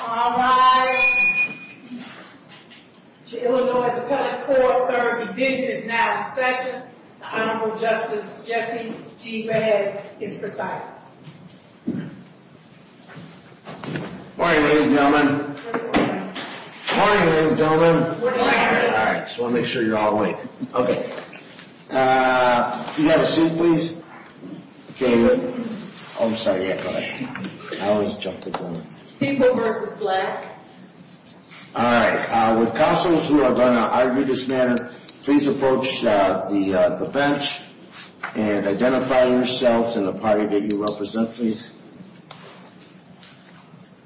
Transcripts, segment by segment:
All rise. The Illinois Appellate Court, third division, is now in session. The Honorable Justice Jesse G. Behez is presiding. Morning, ladies and gentlemen. Morning, ladies and gentlemen. I just want to make sure you're all awake. Okay. Do you have a seat, please? Okay. Oh, I'm sorry. Yeah, go ahead. I always jump the gun. People v. Black. All right. With counsels who are going to argue this matter, please approach the bench and identify yourselves and the party that you represent, please.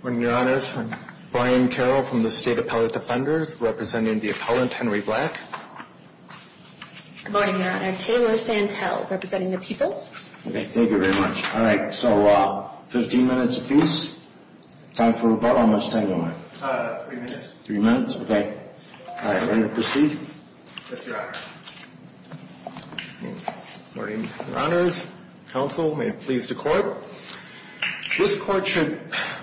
Morning, Your Honors. I'm Brian Carroll from the State Appellate Defenders, representing the appellant, Henry Black. Good morning, Your Honor. Taylor Santel, representing the people. Okay. Thank you very much. All right. So 15 minutes apiece. Time for rebuttal? How much time do I have? Three minutes. Three minutes? Okay. All right. Ready to proceed? Yes, Your Honor. Morning, Your Honors. Counsel, may it please the Court. This Court should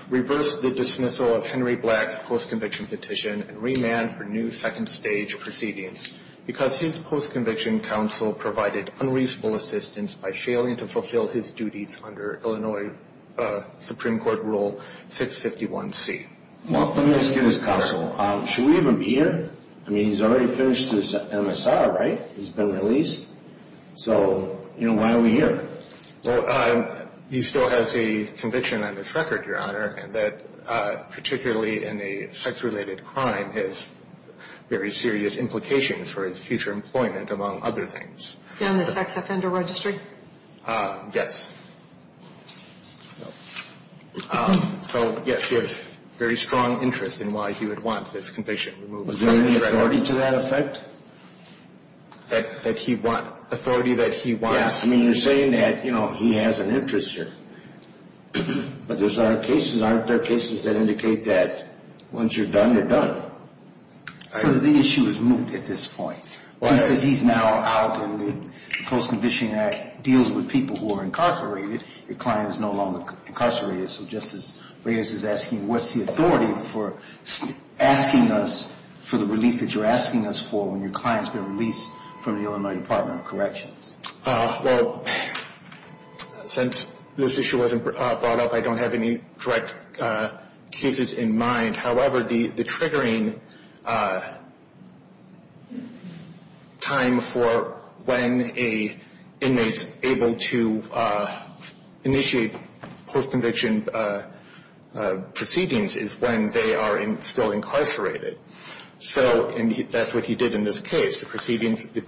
reverse the dismissal of Henry Black's post-conviction petition and remand for new second-stage proceedings because his post-conviction counsel provided unreasonable assistance by failing to fulfill his duties under Illinois Supreme Court Rule 651C. Well, let me ask you this, Counsel. Should we even be here? I mean, he's already finished his MSR, right? He's been released. So, you know, why are we here? Well, he still has a conviction on his record, Your Honor, that particularly in a sex-related crime has very serious implications for his future employment, among other things. Is he on the sex offender registry? Yes. So, yes, he has very strong interest in why he would want this conviction removed. Is there any authority to that effect? That he want? Authority that he wants? Yes. I mean, you're saying that, you know, he has an interest here. But there's other cases. Aren't there cases that indicate that once you're done, you're done? So the issue is moot at this point. Since he's now out and the Post-Conviction Act deals with people who are incarcerated, your client is no longer incarcerated. So Justice Reyes is asking, what's the authority for asking us for the relief that you're asking us for when your client's been released from the Illinois Department of Corrections? Well, since this issue wasn't brought up, I don't have any direct cases in mind. However, the triggering time for when an inmate is able to initiate post-conviction proceedings is when they are still incarcerated. So that's what he did in this case. The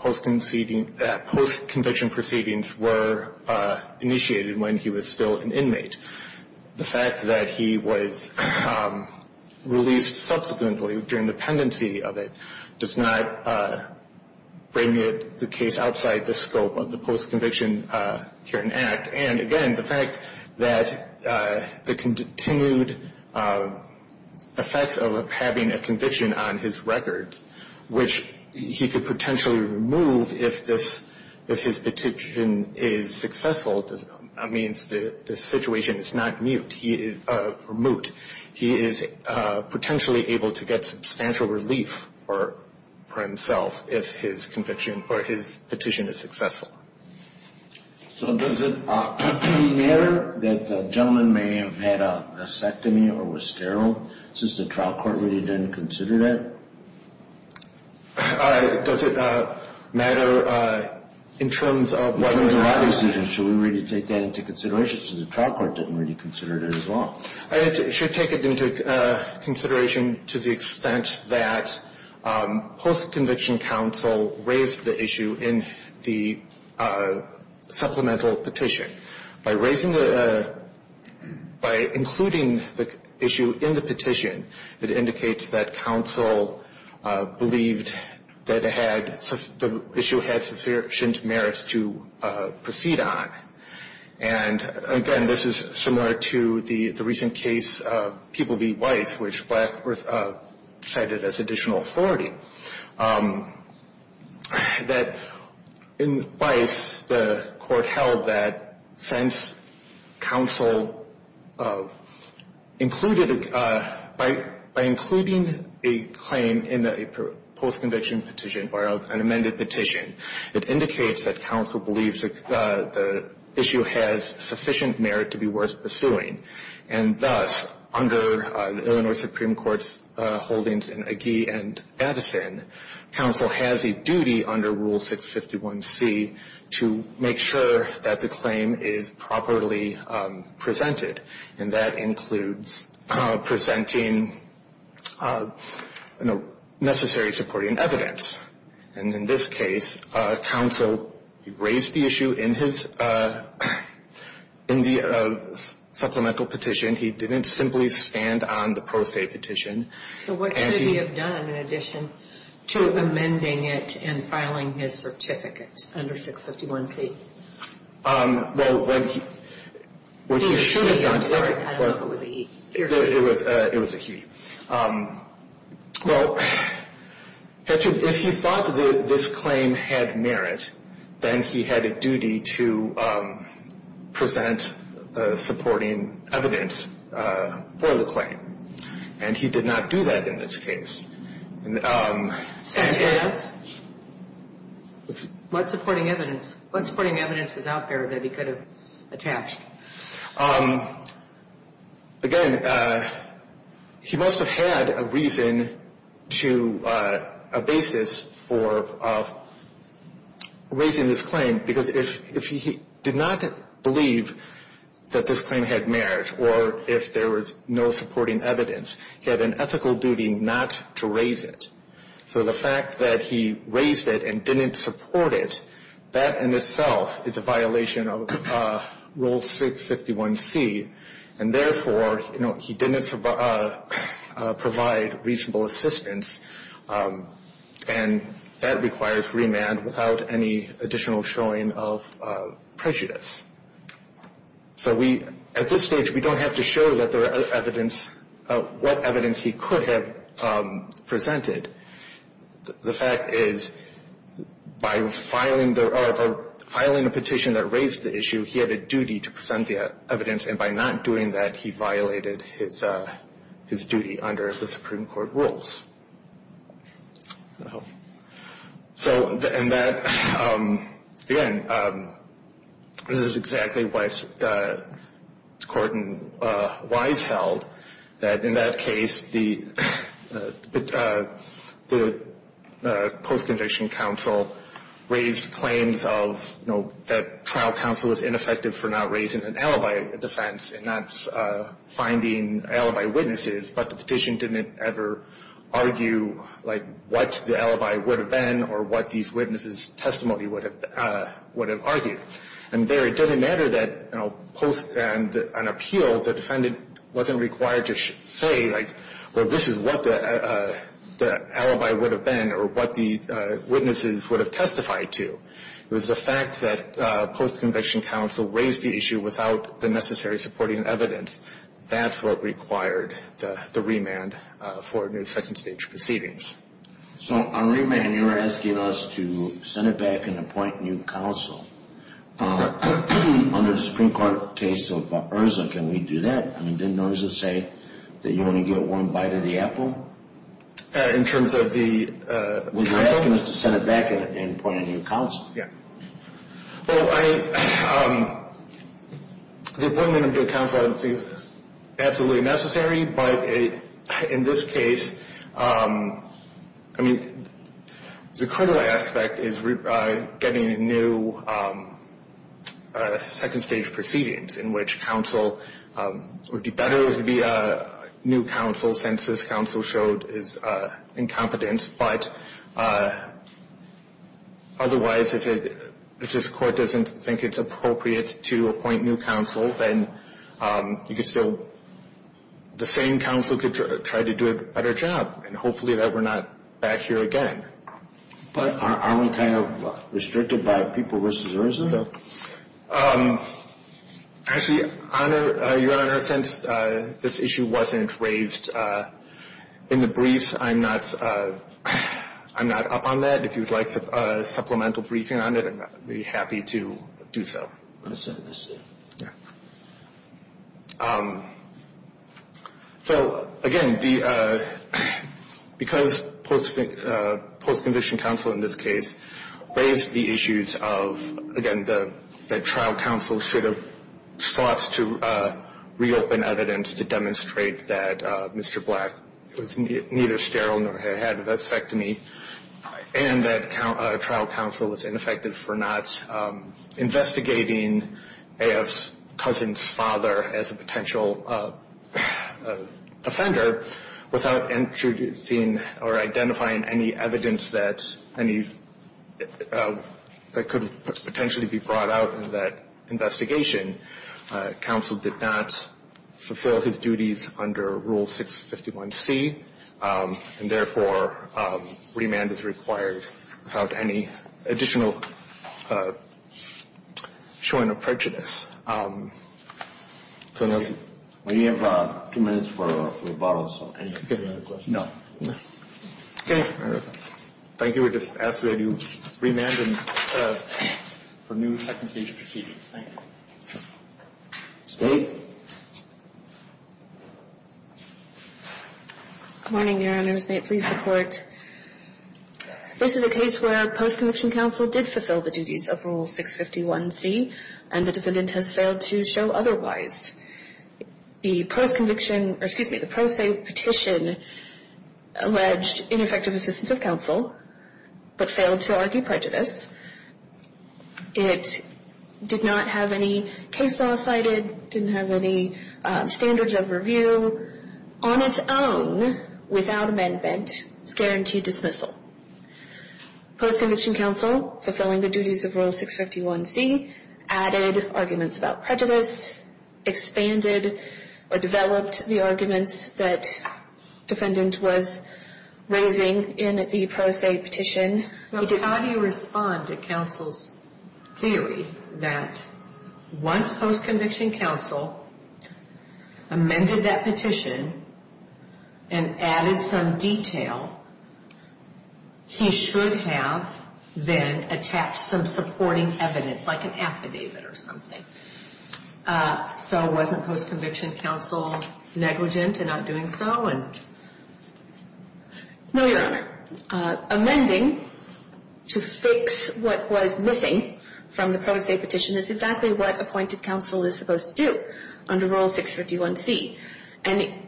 post-conviction proceedings were initiated when he was still an inmate. The fact that he was released subsequently during the pendency of it does not bring the case outside the scope of the post-conviction current act. And again, the fact that the continued effects of having a conviction on his record, which he could potentially remove if his petition is successful, that means the situation is not moot. He is potentially able to get substantial relief for himself if his petition is successful. So does it matter that the gentleman may have had a mastectomy or was sterile, since the trial court really didn't consider that? Does it matter in terms of whether or not... In terms of our decision, should we really take that into consideration, since the trial court didn't really consider it as well? It should take it into consideration to the extent that post-conviction counsel raised the issue in the supplemental petition. By including the issue in the petition, it indicates that counsel believed that the issue had sufficient merits to proceed on. And again, this is similar to the recent case of People v. Weiss, which Blackworth cited as additional authority. That in Weiss, the court held that since counsel included, by including a claim in a post-conviction petition or an amended petition, it indicates that counsel believes the issue has sufficient merit to be worth pursuing. And thus, under the Illinois Supreme Court's holdings in Agee and Addison, counsel has a duty under Rule 651C to make sure that the claim is properly presented, and that includes presenting necessary supporting evidence. And in this case, counsel raised the issue in the supplemental petition. He didn't simply stand on the pro se petition. So what should he have done in addition to amending it and filing his certificate under 651C? Well, what he should have done... He or she. I'm sorry. I don't know if it was a he. It was a he. Well, if he thought that this claim had merit, then he had a duty to present supporting evidence for the claim. And he did not do that in this case. What supporting evidence? What supporting evidence was out there that he could have attached? Again, he must have had a reason to, a basis for raising this claim, because if he did not believe that this claim had merit, or if there was no supporting evidence, he had an ethical duty not to raise it. So the fact that he raised it and didn't support it, that in itself is a violation of Rule 651C, and therefore he didn't provide reasonable assistance, and that requires remand without any additional showing of prejudice. So at this stage, we don't have to show what evidence he could have presented. The fact is, by filing a petition that raised the issue, he had a duty to present the evidence, and by not doing that, he violated his duty under the Supreme Court rules. So, and that, again, this is exactly what the court in Wise held, that in that case, the post-conviction counsel raised claims of, you know, that trial counsel was ineffective for not raising an alibi defense and not finding alibi witnesses, but the petition didn't ever argue, like, what the alibi would have been or what these witnesses' testimony would have argued. And there, it didn't matter that, you know, post and an appeal, the defendant wasn't required to say, like, well, this is what the alibi would have been or what the witnesses would have testified to. It was the fact that post-conviction counsel raised the issue without the necessary supporting evidence. That's what required the remand for a new second-stage proceedings. So on remand, you're asking us to send it back and appoint new counsel. Under the Supreme Court case of Urza, can we do that? I mean, didn't Urza say that you only get one bite of the apple? In terms of the counsel? Well, you're asking us to send it back and appoint a new counsel. Yeah. Well, the appointment of new counsel I don't think is absolutely necessary, but in this case, I mean, the criminal aspect is getting a new second-stage proceedings in which counsel would do better to be a new counsel since this counsel showed his incompetence. But otherwise, if this court doesn't think it's appropriate to appoint new counsel, then the same counsel could try to do a better job and hopefully that we're not back here again. But aren't we kind of restricted by people versus Urza? Actually, Your Honor, since this issue wasn't raised in the briefs, I'm not up on that. If you'd like supplemental briefing on it, I'd be happy to do so. I'll send this to you. So, again, because post-condition counsel in this case raised the issues of, again, that trial counsel should have sought to reopen evidence to demonstrate that Mr. Black was neither sterile nor had a vasectomy and that trial counsel is ineffective for not investigating A.F.'s cousin's father as a potential offender without introducing or identifying any evidence that any that could potentially be brought out in that investigation. Counsel did not fulfill his duties under Rule 651C, and, therefore, remand is required without any additional showing of prejudice. We have two minutes for rebuttals. Any other questions? No. Okay. Thank you. We just ask that you remand him for new second-stage proceedings. Thank you. State. Good morning, Your Honors. May it please the Court. This is a case where post-conviction counsel did fulfill the duties of Rule 651C, and the defendant has failed to show otherwise. The post-conviction or, excuse me, the pro se petition alleged ineffective assistance of counsel but failed to argue prejudice. It did not have any case law cited, didn't have any standards of review. On its own, without amendment, it's guaranteed dismissal. Post-conviction counsel, fulfilling the duties of Rule 651C, added arguments about prejudice, expanded or developed the arguments that defendant was raising in the pro se petition. How do you respond to counsel's theory that once post-conviction counsel amended that petition and added some detail, he should have then attached some supporting evidence, like an affidavit or something? So wasn't post-conviction counsel negligent in not doing so? No, Your Honor. Amending to fix what was missing from the pro se petition is exactly what appointed counsel is supposed to do under Rule 651C. And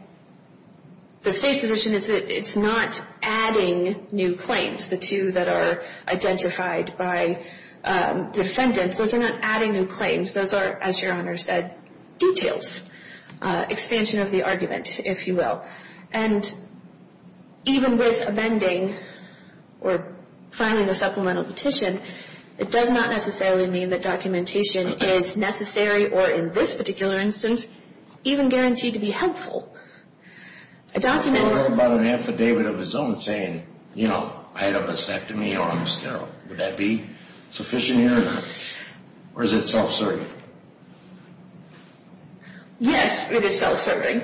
the State's position is that it's not adding new claims. The two that are identified by defendant, those are not adding new claims. Those are, as Your Honor said, details, expansion of the argument, if you will. And even with amending or filing a supplemental petition, it does not necessarily mean that documentation is necessary or in this particular instance even guaranteed to be helpful. A document or... What about an affidavit of his own saying, you know, I had a vasectomy or I'm sterile? Would that be sufficient, Your Honor? Or is it self-serving? Yes, it is self-serving.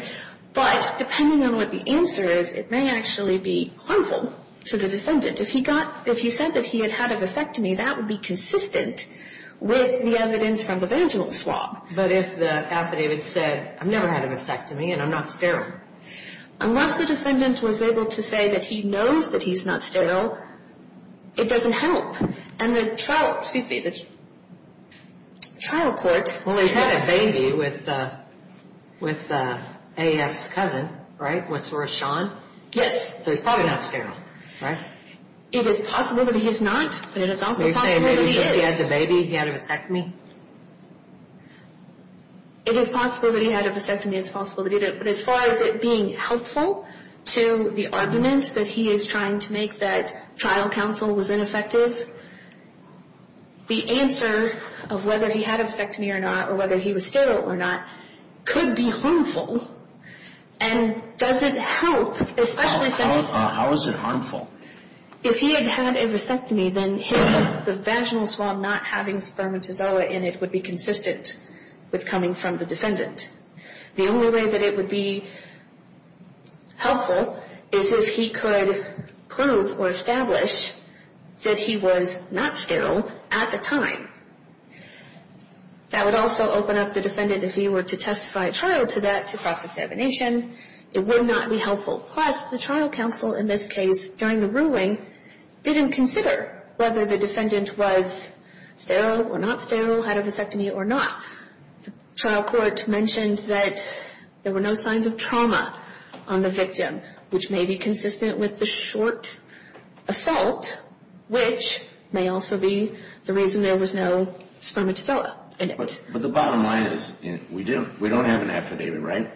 But depending on what the answer is, it may actually be harmful to the defendant. If he said that he had had a vasectomy, that would be consistent with the evidence from the Vangelis law. But if the affidavit said, I've never had a vasectomy and I'm not sterile? Unless the defendant was able to say that he knows that he's not sterile, it doesn't help. And the trial, excuse me, the trial court... Well, he's had a baby with A.S. Cousin, right, with Rashaun? Yes. So he's probably not sterile, right? It is possible that he is not, but it is also possible that he is. Are you saying maybe because he had the baby, he had a vasectomy? It is possible that he had a vasectomy. It's possible that he did it. But as far as it being helpful to the argument that he is trying to make that trial counsel was ineffective, the answer of whether he had a vasectomy or not, or whether he was sterile or not, could be harmful and doesn't help, especially since... How is it harmful? If he had had a vasectomy, then the vaginal swab not having spermatozoa in it would be consistent with coming from the defendant. The only way that it would be helpful is if he could prove or establish that he was not sterile at the time. That would also open up the defendant, if he were to testify at trial to that, to cross-examination. It would not be helpful. Plus, the trial counsel in this case, during the ruling, didn't consider whether the defendant was sterile or not sterile, had a vasectomy or not. The trial court mentioned that there were no signs of trauma on the victim, which may be consistent with the short assault, which may also be the reason there was no spermatozoa in it. But the bottom line is we don't have an affidavit, right?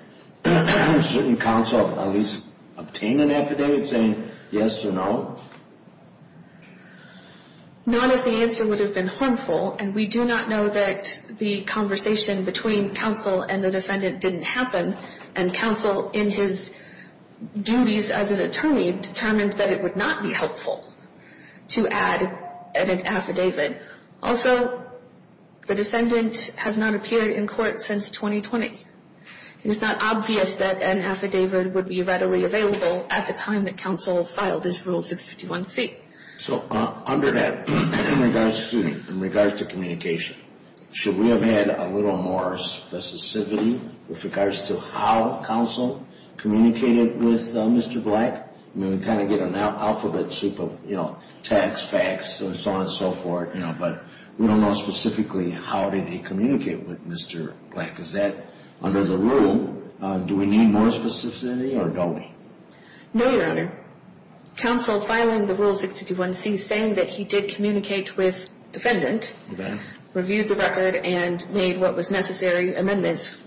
Shouldn't counsel at least obtain an affidavit saying yes or no? Not if the answer would have been harmful, and we do not know that the conversation between counsel and the defendant didn't happen, and counsel, in his duties as an attorney, determined that it would not be helpful to add an affidavit. Also, the defendant has not appeared in court since 2020. It is not obvious that an affidavit would be readily available at the time that counsel filed his Rule 651C. So under that, in regards to communication, should we have had a little more specificity with regards to how counsel communicated with Mr. Black? I mean, we kind of get an alphabet soup of tags, facts, and so on and so forth, but we don't know specifically how did he communicate with Mr. Black. Is that under the rule? Do we need more specificity or don't we? No, Your Honor. Counsel filing the Rule 651C saying that he did communicate with defendant and reviewed the record and made what was necessary amendments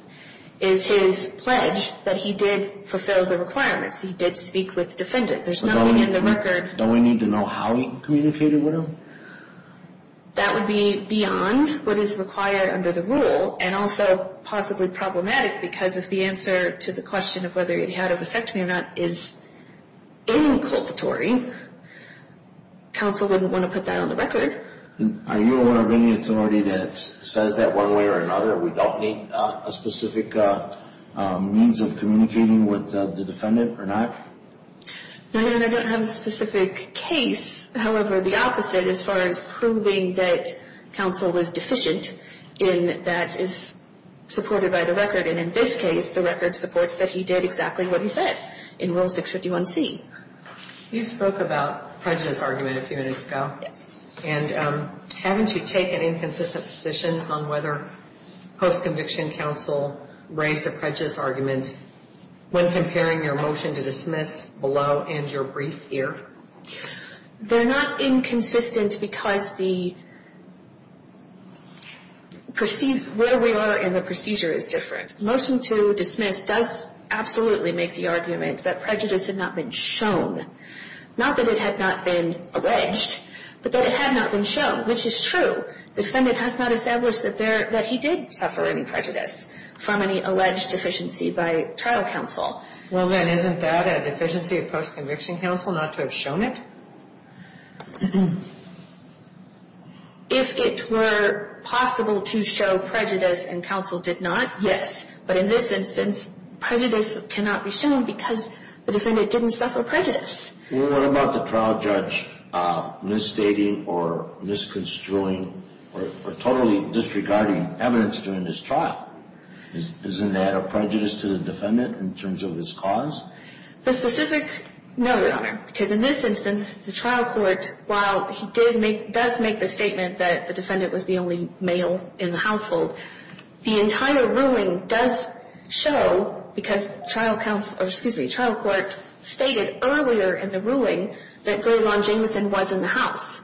is his pledge that he did fulfill the requirements. He did speak with defendant. There's nothing in the record. Don't we need to know how he communicated with him? That would be beyond what is required under the rule and also possibly problematic because if the answer to the question of whether it had a vasectomy or not is inculpatory, counsel wouldn't want to put that on the record. Are you aware of any authority that says that one way or another we don't need a specific means of communicating with the defendant or not? No, Your Honor. I don't have a specific case. However, the opposite as far as proving that counsel was deficient in that is supported by the record, and in this case, the record supports that he did exactly what he said in Rule 651C. You spoke about the prejudice argument a few minutes ago. Yes. And haven't you taken inconsistent positions on whether post-conviction counsel raised a prejudice argument when comparing your motion to dismiss below and your brief here? They're not inconsistent because where we are in the procedure is different. Motion to dismiss does absolutely make the argument that prejudice had not been shown, not that it had not been alleged, but that it had not been shown, which is true. The defendant has not established that he did suffer any prejudice from any alleged deficiency by trial counsel. Well, then, isn't that a deficiency of post-conviction counsel not to have shown it? If it were possible to show prejudice and counsel did not, yes. But in this instance, prejudice cannot be shown because the defendant didn't suffer prejudice. Well, what about the trial judge misstating or misconstruing or totally disregarding evidence during this trial? Isn't that a prejudice to the defendant in terms of his cause? The specific no, Your Honor, because in this instance, the trial court, while he does make the statement that the defendant was the only male in the household, the entire ruling does show, because the trial court stated earlier in the ruling that Graylawn Jameson was in the house.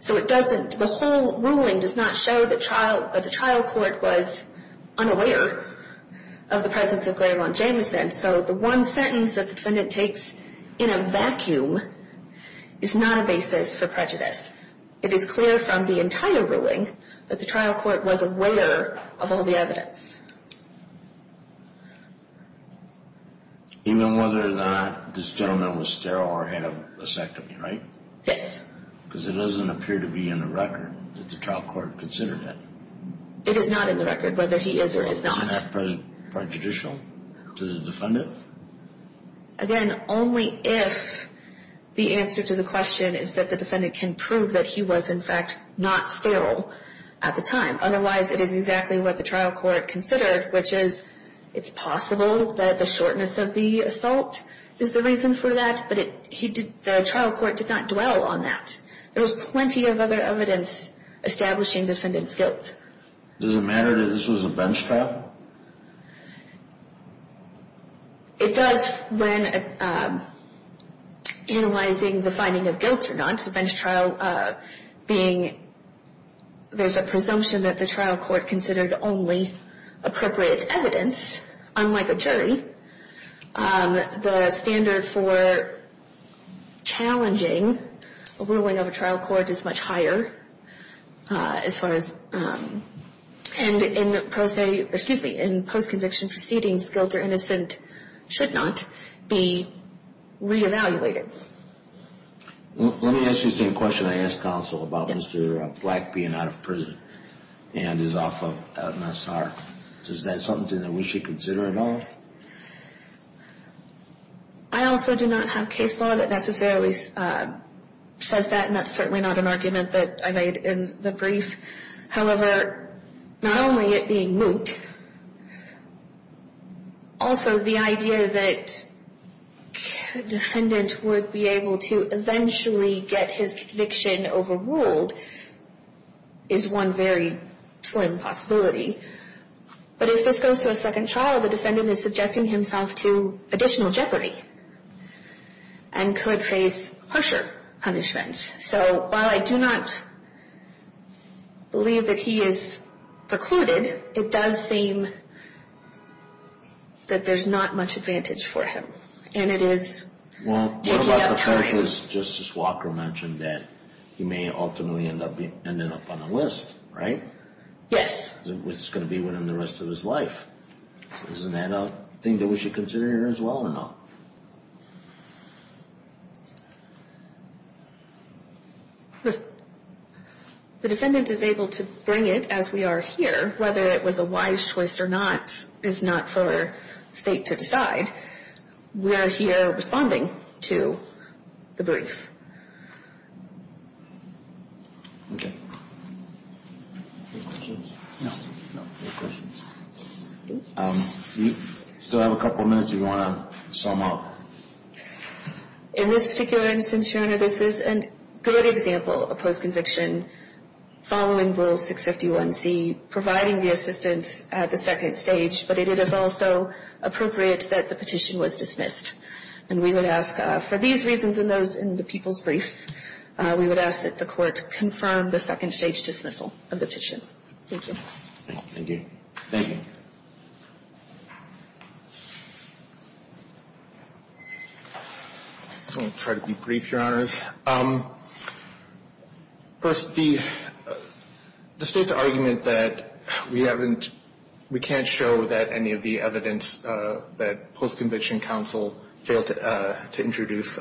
So the whole ruling does not show that the trial court was unaware of the presence of Graylawn Jameson. So the one sentence that the defendant takes in a vacuum is not a basis for prejudice. It is clear from the entire ruling that the trial court was aware of all the evidence. Even whether or not this gentleman was sterile or had a vasectomy, right? Yes. Because it doesn't appear to be in the record that the trial court considered it. It is not in the record, whether he is or is not. Isn't that prejudicial to the defendant? Again, only if the answer to the question is that the defendant can prove that he was, in fact, not sterile at the time. Otherwise, it is exactly what the trial court considered, which is it's possible that the shortness of the assault is the reason for that, but the trial court did not dwell on that. There was plenty of other evidence establishing defendant's guilt. Does it matter that this was a bench trial? It does when analyzing the finding of guilt or not. A bench trial being there's a presumption that the trial court considered only appropriate evidence, unlike a jury. The standard for challenging a ruling of a trial court is much higher as far as And in post-conviction proceedings, guilt or innocent should not be re-evaluated. Let me ask you the same question I asked counsel about Mr. Black being out of prison and is off of Nassar. Is that something that we should consider at all? I also do not have case law that necessarily says that, and that's certainly not an argument that I made in the brief. However, not only it being moot, also the idea that a defendant would be able to eventually get his conviction overruled is one very slim possibility. But if this goes to a second trial, the defendant is subjecting himself to additional jeopardy and could face harsher punishments. So while I do not believe that he is precluded, it does seem that there's not much advantage for him. And it is taking up time. Justice Walker mentioned that he may ultimately end up on a list, right? Yes. Which is going to be with him the rest of his life. So isn't that a thing that we should consider here as well or not? The defendant is able to bring it as we are here. Whether it was a wise choice or not is not for State to decide. We are here responding to the brief. Okay. Any questions? No. No questions. We still have a couple of minutes if you want to sum up. In this particular instance, Your Honor, this is a good example of a post-conviction following Rule 651C providing the assistance at the second stage, but it is also appropriate that the petition was dismissed. And we would ask for these reasons and those in the people's briefs, we would ask that the Court confirm the second stage dismissal of the petition. Thank you. Thank you. I'm going to try to be brief, Your Honors. First, the State's argument that we haven't, we can't show that any of the evidence that post-conviction counsel failed to introduce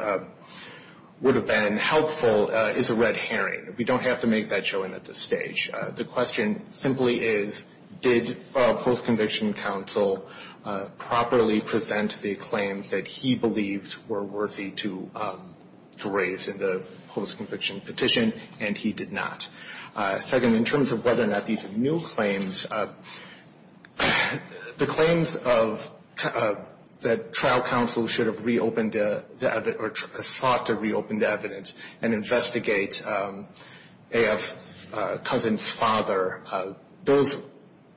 would have been helpful is a red herring. We don't have to make that shown at this stage. The question simply is, did post-conviction counsel properly present the claims that he believed were worthy to raise in the post-conviction petition, and he did not? Second, in terms of whether or not these new claims, the claims that trial counsel should have reopened, or sought to reopen the evidence and investigate A.F. Cousin's father, those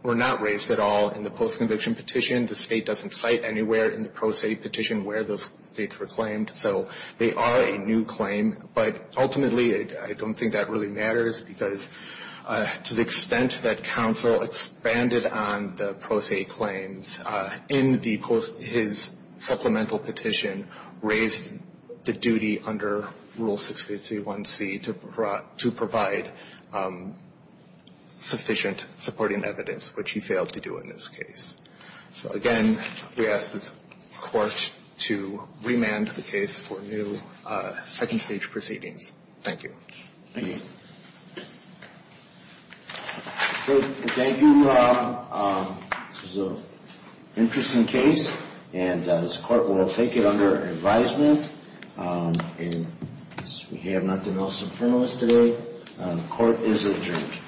were not raised at all in the post-conviction petition. The State doesn't cite anywhere in the pro se petition where those states were claimed. So they are a new claim, but ultimately I don't think that really matters because to the extent that counsel expanded on the pro se claims in his supplemental petition, raised the duty under Rule 651C to provide sufficient supporting evidence, which he failed to do in this case. So, again, we ask this Court to remand the case for new second-stage proceedings. Thank you. Thank you. Thank you, Rob. This was an interesting case, and this Court will take it under advisement. We have nothing else in front of us today. The Court is adjourned.